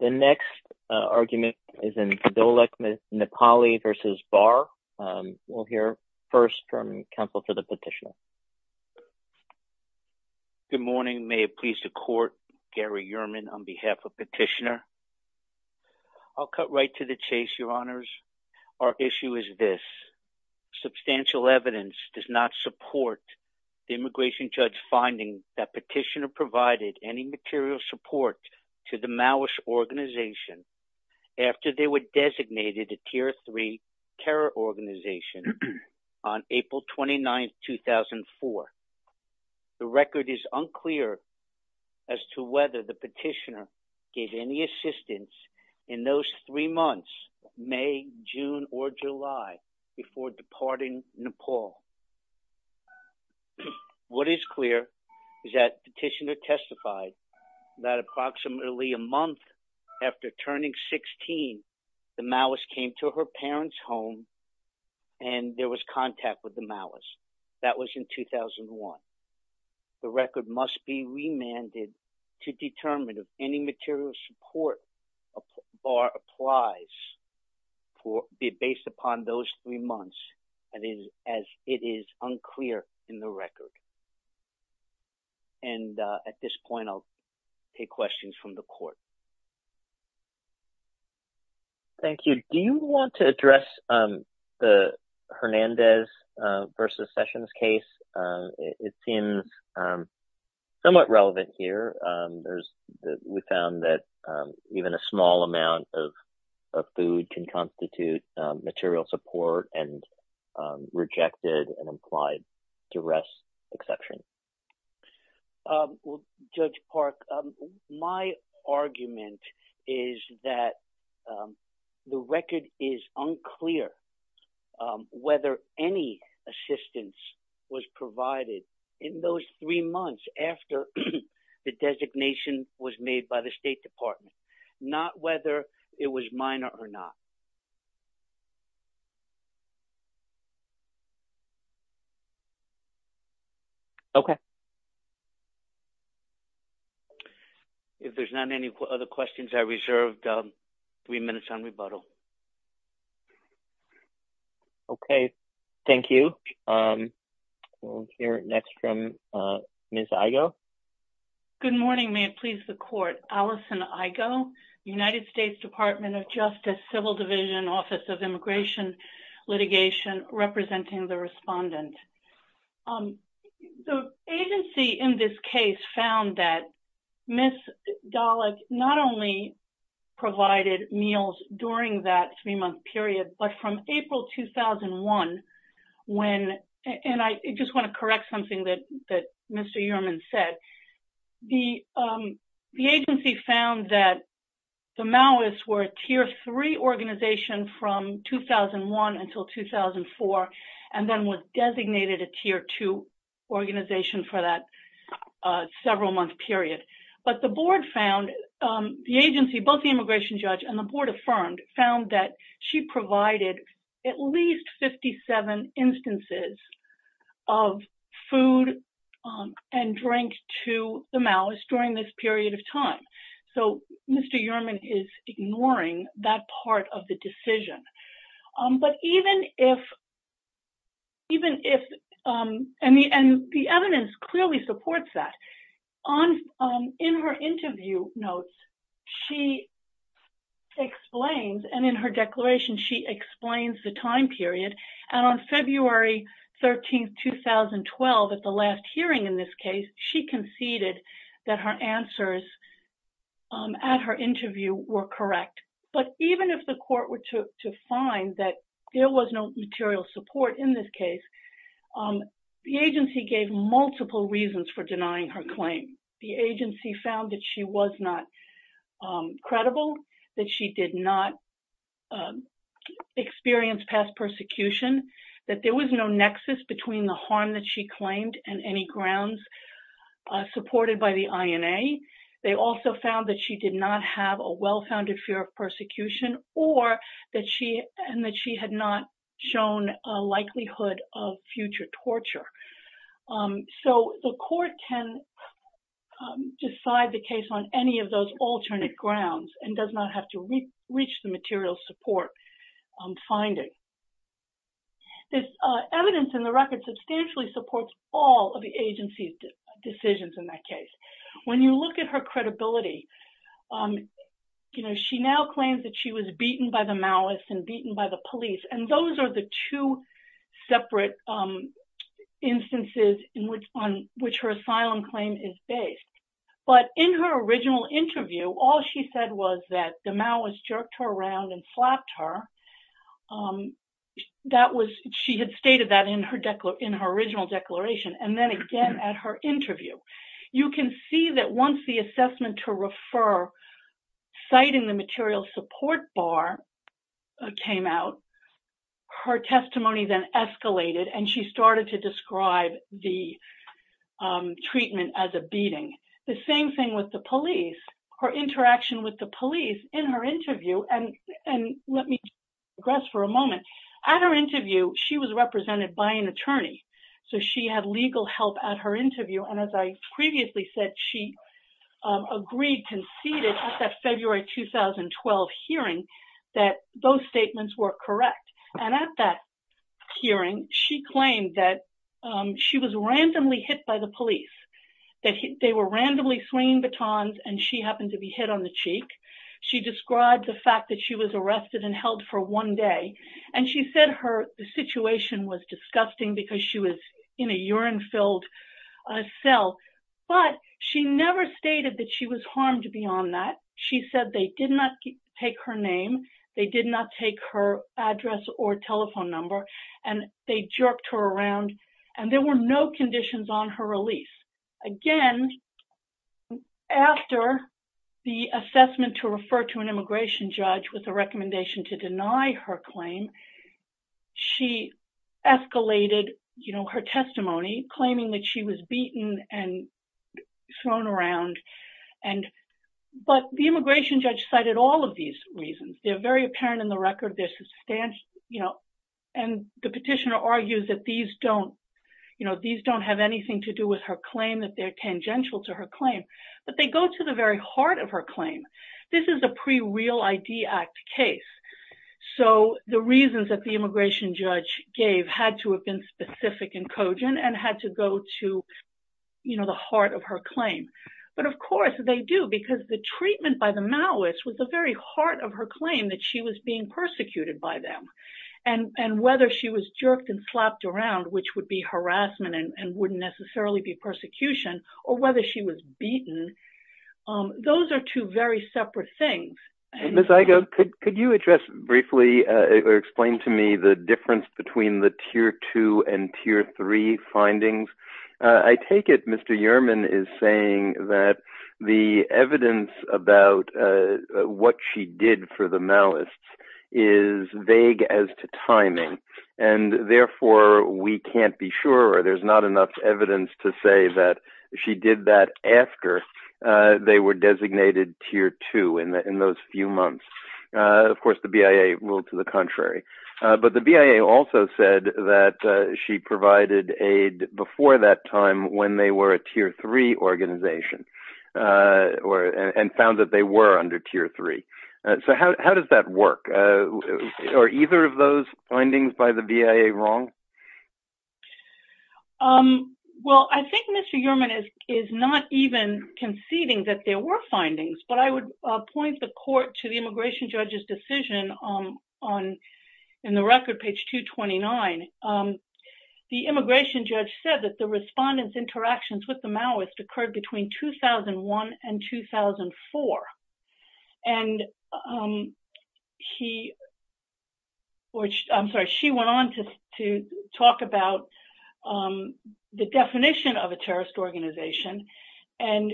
The next argument is in Doleck Nepali v. Barr. We'll hear first from counsel to the petitioner. Good morning. May it please the court, Gary Yerman on behalf of Petitioner. I'll cut right to the chase, your honors. Our issue is this. Substantial evidence does not support the immigration judge finding that Petitioner provided any material support to the Maoist organization after they were designated a tier three terror organization on April 29th, 2004. The record is unclear as to whether the petitioner gave any assistance in those three months, May, June, or July, before departing Nepal. What is clear is that Petitioner testified that approximately a month after turning 16, the Maoist came to her parents' home and there was contact with the Maoist. That was in 2001. The record must be remanded to determine if any material support applies based upon those three months, as it is unclear in the record. And at this point, I'll take questions from the court. Thank you. Do you want to address the Hernandez versus Sessions case? It seems somewhat relevant here. We found that even a small amount of food can constitute material support and rejected an implied duress exception. Judge Park, my argument is that the record is unclear whether any assistance was provided in those three months after the designation was made by the State Department, not whether it was minor or not. Okay. If there's not any other questions, I reserved three minutes on rebuttal. Okay. Thank you. We'll hear next from Ms. Igoe. Good morning. May it please the court. Allison Igoe, United States Department of Justice, Civil Division, Office of Immigration Litigation, representing the Respondents. The agency in this case found that Ms. Dollack not only provided meals during that three-month period, but from April 2001, when... And I just want to correct something that Mr. Uriman said. The agency found that the Maoists were a tier three organization from 2001 until 2004, and then was designated a tier two organization for that several-month period. But the board found, the agency, both the immigration judge and the board affirmed, found that she provided at least 57 instances of food and drink to the Maoists during this period of time. So Mr. Uriman is ignoring that part of the decision. But even if... And the evidence clearly supports that. In her interview notes, she explains, and in her declaration, she explains the time period. And on February 13, 2012, at the last hearing in this case, she conceded that her answers at her interview were correct. But even if the court were to find that there was no material support in this case, the agency gave multiple reasons for denying her claim. The agency found that she was not credible, that she did not experience past persecution, that there was no nexus between the harm that she claimed and any grounds supported by the INA. They also found that she did not have a well-founded fear of persecution or that she had not shown a likelihood of future torture. So the court can decide the case on any of those alternate grounds and does not have to reach the material support finding. This evidence in the record substantially supports all of the agency's decisions in that case. When you look at her credibility, you know, she now claims that she was beaten by the Maoists and beaten by the police. And those are the two separate instances on which her asylum claim is based. But in her original interview, all she said was that the Maoists jerked her around and slapped her. That was, she had stated that in her original declaration. And then again at her interview. You can see that once the assessment to refer citing the material support bar came out, her testimony then escalated and she started to describe the treatment as a beating. The same thing with the police, her interaction with the police in her interview, and let me address for a moment, at her interview, she was represented by an attorney. So she had legal help at her interview. And as I previously said, she agreed, conceded at that February 2012 hearing that those statements were correct. And at that hearing, she claimed that she was randomly hit by the police. That they were randomly swinging batons and she happened to be hit on the cheek. She described the fact that she was arrested and held for one day. And she said her situation was disgusting because she was in a urine-filled cell. But she never stated that she was harmed beyond that. She said they did not take her name. They did not take her address or telephone number. And they jerked her around and there were no conditions on her release. Again, after the assessment to refer to an immigration judge with a recommendation to deny her claim, she escalated, you know, her testimony, claiming that she was beaten and thrown around. And but the immigration judge cited all of these reasons. They're very apparent in the record. They're substantial, you know, and the petitioner argues that these don't, you know, these don't have anything to do with her claim, that they're tangential to her claim. But they go to the very heart of her claim. This is a pre-Real ID Act case. So, the reasons that the immigration judge gave had to have been specific and cogent and had to go to, you know, the heart of her claim. But of course, they do because the treatment by the Maoists was the very heart of her claim that she was being persecuted by them. And whether she was jerked and slapped around, which would be harassment and wouldn't necessarily be persecution, or whether she was beaten, those are two very separate things. And Ms. Igoe, could you address briefly or explain to me the difference between the tier two and tier three findings? I take it Mr. Yerman is saying that the evidence about what she did for the Maoists is vague as to timing. And therefore, we can't be sure, or there's not enough evidence to say that she did that after they were designated tier two in those few months. Of course, the BIA ruled to the contrary. But the BIA also said that she provided aid before that time when they were a tier three organization and found that they were under tier three. So, how does that work? Are either of those findings by the BIA wrong? Well, I think Mr. Yerman is not even conceding that there were findings. But I would point the court to the immigration judge's decision in the record, page 229. The immigration judge said that the respondents' interactions with the Maoists occurred between 2001 and 2004. And he, or I'm sorry, she went on to talk about the definition of a terrorist organization. And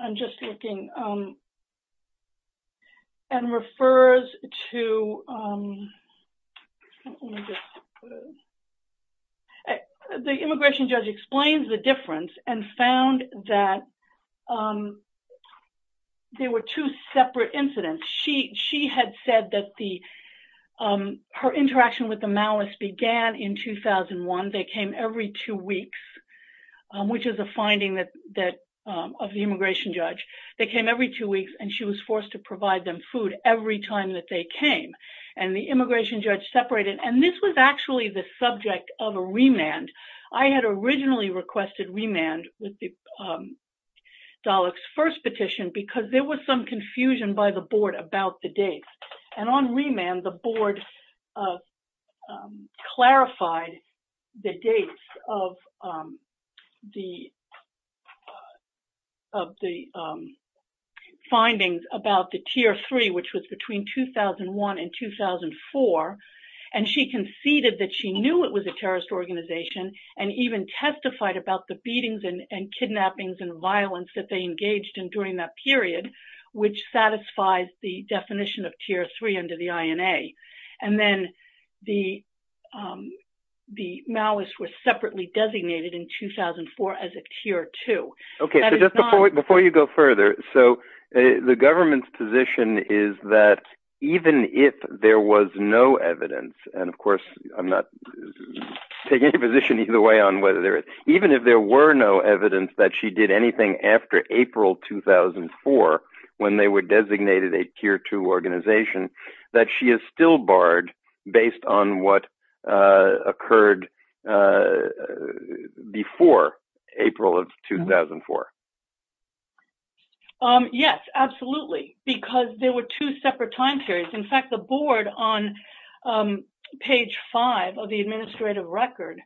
I'm just looking, and refers to, let me just, the immigration judge explains the difference and found that there were two separate incidents. She had said that the, her interaction with the Maoists began in 2001. They came every two weeks, which is a finding that, of the immigration judge. They came every two weeks, and she was forced to provide them food every time that they came. And the immigration judge separated. And this was actually the subject of a remand. I had originally requested remand with the Dalek's first petition because there was some confusion by the board about the dates. And on remand, the board clarified the dates of the findings about the tier three, which was between 2001 and 2004. And she conceded that she knew it was a terrorist organization, and even testified about the beatings and kidnappings and violence that they engaged in during that period, which satisfies the definition of tier three under the INA. And then the Maoists were separately designated in 2004 as a tier two. That is not. Before you go further, so the government's position is that even if there was no evidence, and of course, I'm not taking a position either way on whether there is, even if there were no evidence that she did anything after April 2004 when they were designated a tier two organization, that she is still barred based on what occurred before April of 2004? Yes, absolutely, because there were two separate time periods. In fact, the board on page five of the administrative record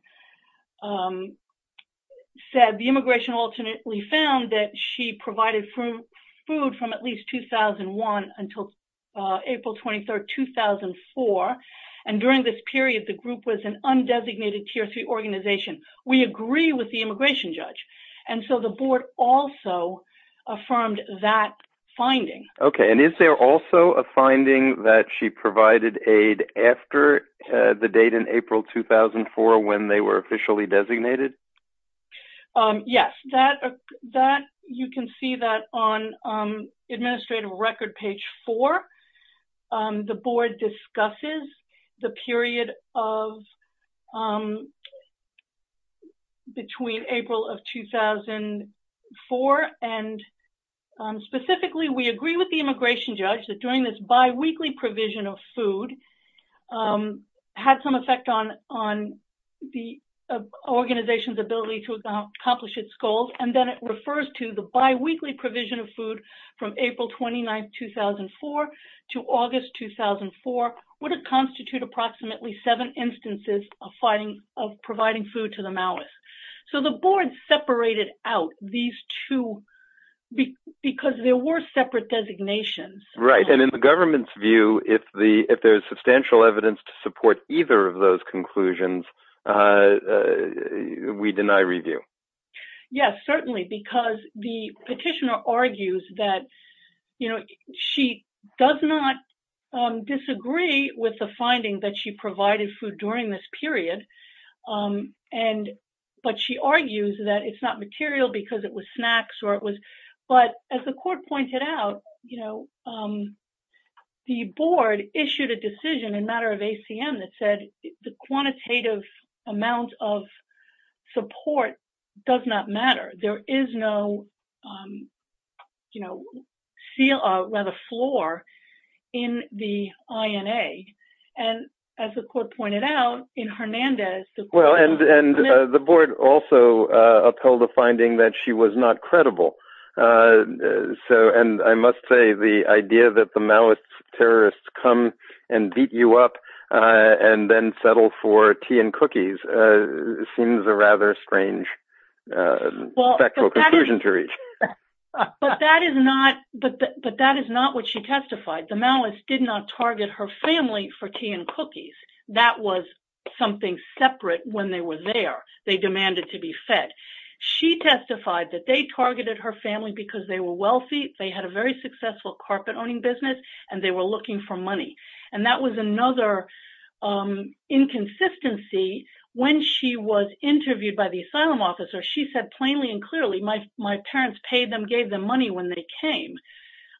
said the immigration alternately found that she provided food from at least 2001 until April 23rd, 2004. And during this period, the group was an undesignated tier three organization. We agree with the immigration judge. And so the board also affirmed that finding. Okay. And is there also a finding that she provided aid after the date in April 2004 when they were officially designated? Yes. That, you can see that on administrative record page four. The board discusses the period of between April of 2004. And specifically, we agree with the immigration judge that during this biweekly provision of food had some effect on the organization's ability to accomplish its goals, and then it refers to the biweekly provision of food from April 29th, 2004 to August 2004 would have constitute approximately seven instances of providing food to the Maoist. So the board separated out these two because there were separate designations. Right. And in the government's view, if there's substantial evidence to support either of those conclusions, we deny review. Yes, certainly. Because the petitioner argues that, you know, she does not disagree with the finding that she provided food during this period. And but she argues that it's not material because it was snacks or it was. But as the court pointed out, you know, the board issued a decision in matter of ACM that said the quantitative amount of support does not matter. There is no, you know, rather floor in the INA. And as the court pointed out in Hernandez, the court. Well, and the board also upheld the finding that she was not credible. So and I must say the idea that the Maoist terrorists come and beat you up and then settle for tea and cookies seems a rather strange factual conclusion to reach. But that is not what she testified. The Maoists did not target her family for tea and cookies. That was something separate when they were there. They demanded to be fed. She testified that they targeted her family because they were wealthy, they had a very successful carpet owning business, and they were looking for money. And that was another inconsistency when she was interviewed by the asylum officer. She said plainly and clearly, my parents paid them, gave them money when they came.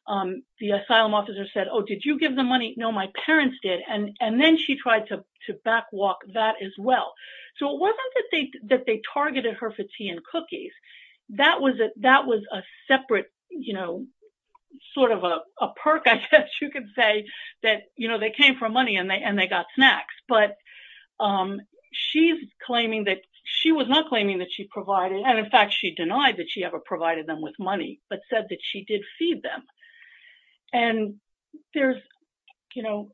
The asylum officer said, oh, did you give them money? No, my parents did. And then she tried to back walk that as well. So it wasn't that they targeted her for tea and cookies. That was a separate, you know, sort of a perk, I guess you could say, that, you know, they came for money and they got snacks. But she's claiming that she was not claiming that she provided, and in fact, she denied that she ever provided them with money, but said that she did feed them. And there's, you know,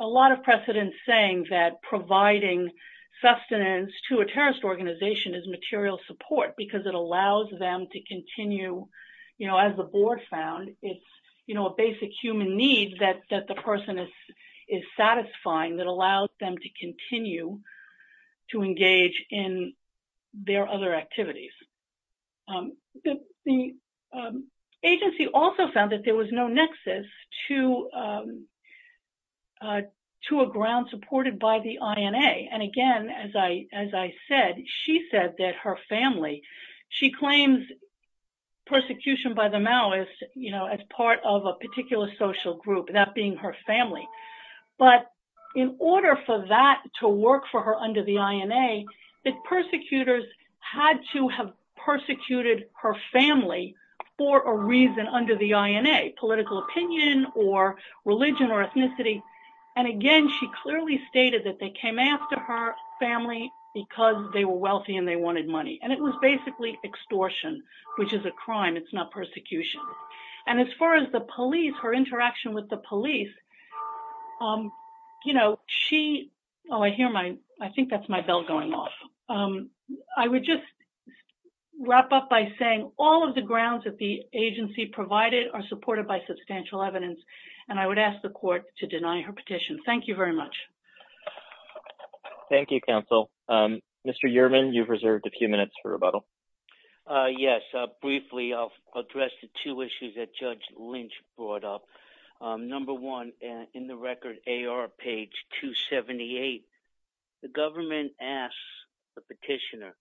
a lot of precedent saying that providing sustenance to a terrorist organization is material support because it allows them to continue, you know, as the board found, it's, you know, a basic human need that the person is satisfying that allows them to continue to engage in their other activities. The agency also found that there was no nexus to a ground supported by the INA. And again, as I said, she said that her family, she claims persecution by the Maoist, you know, as part of a particular social group, that being her family. But in order for that to work for her under the INA, the persecutors had to have persecuted her family for a reason under the INA, political opinion or religion or ethnicity. And again, she clearly stated that they came after her family because they were wealthy and they wanted money. And it was basically extortion, which is a crime, it's not persecution. And as far as the police, her interaction with the police, you know, she, oh, I hear my, I think that's my bell going off. I would just wrap up by saying all of the grounds that the agency provided are supported by substantial evidence. And I would ask the court to deny her petition. Thank you very much. Thank you, counsel. Mr. Uhrman, you've reserved a few minutes for rebuttal. Yes, briefly, I'll address the two issues that Judge Lynch brought up. Number one, in the record AR page 278, the government asks the petitioner,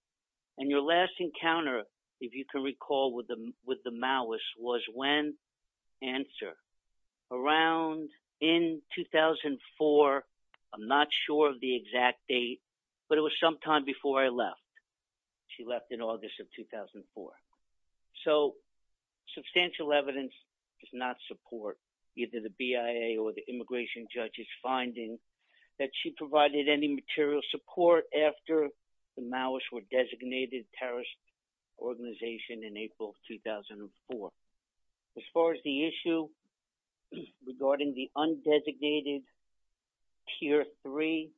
and your last encounter, if you can recall with the Maoist, was when? Answer. Around in 2004, I'm not sure of the exact date, but it was some time before I left. She left in August of 2004. So substantial evidence does not support either the BIA or the immigration judge's finding that she provided any material support after the Maoists were designated terrorist organization in April of 2004. As far as the issue regarding the undesignated tier three,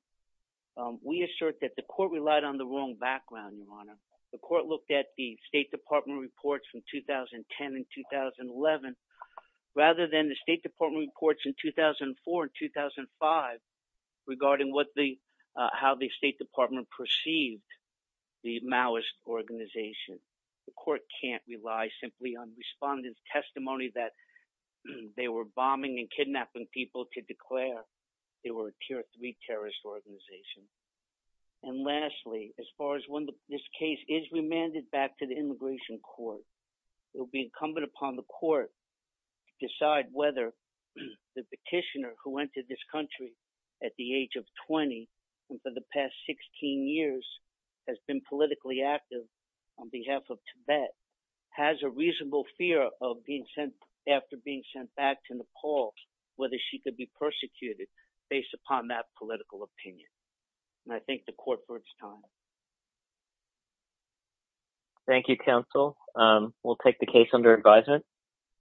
we assert that the court relied on the wrong background, Your Honor. The court looked at the State Department reports from 2010 and 2011, rather than the State Department reports in 2004 and 2005, regarding how the State Department perceived the Maoist organization. The court can't rely simply on respondents' testimony that they were bombing and kidnapping people to declare they were a tier three terrorist organization. And lastly, as far as when this case is remanded back to the immigration court, it will be incumbent upon the court to decide whether the petitioner who entered this country at the age of 20 and for the past 16 years has been politically active on behalf of Tibet, has a reasonable fear of being sent, after being sent back to Nepal, whether she could be persecuted based upon that political opinion. And I think the court bids time. Thank you, counsel. We'll take the case under advisement.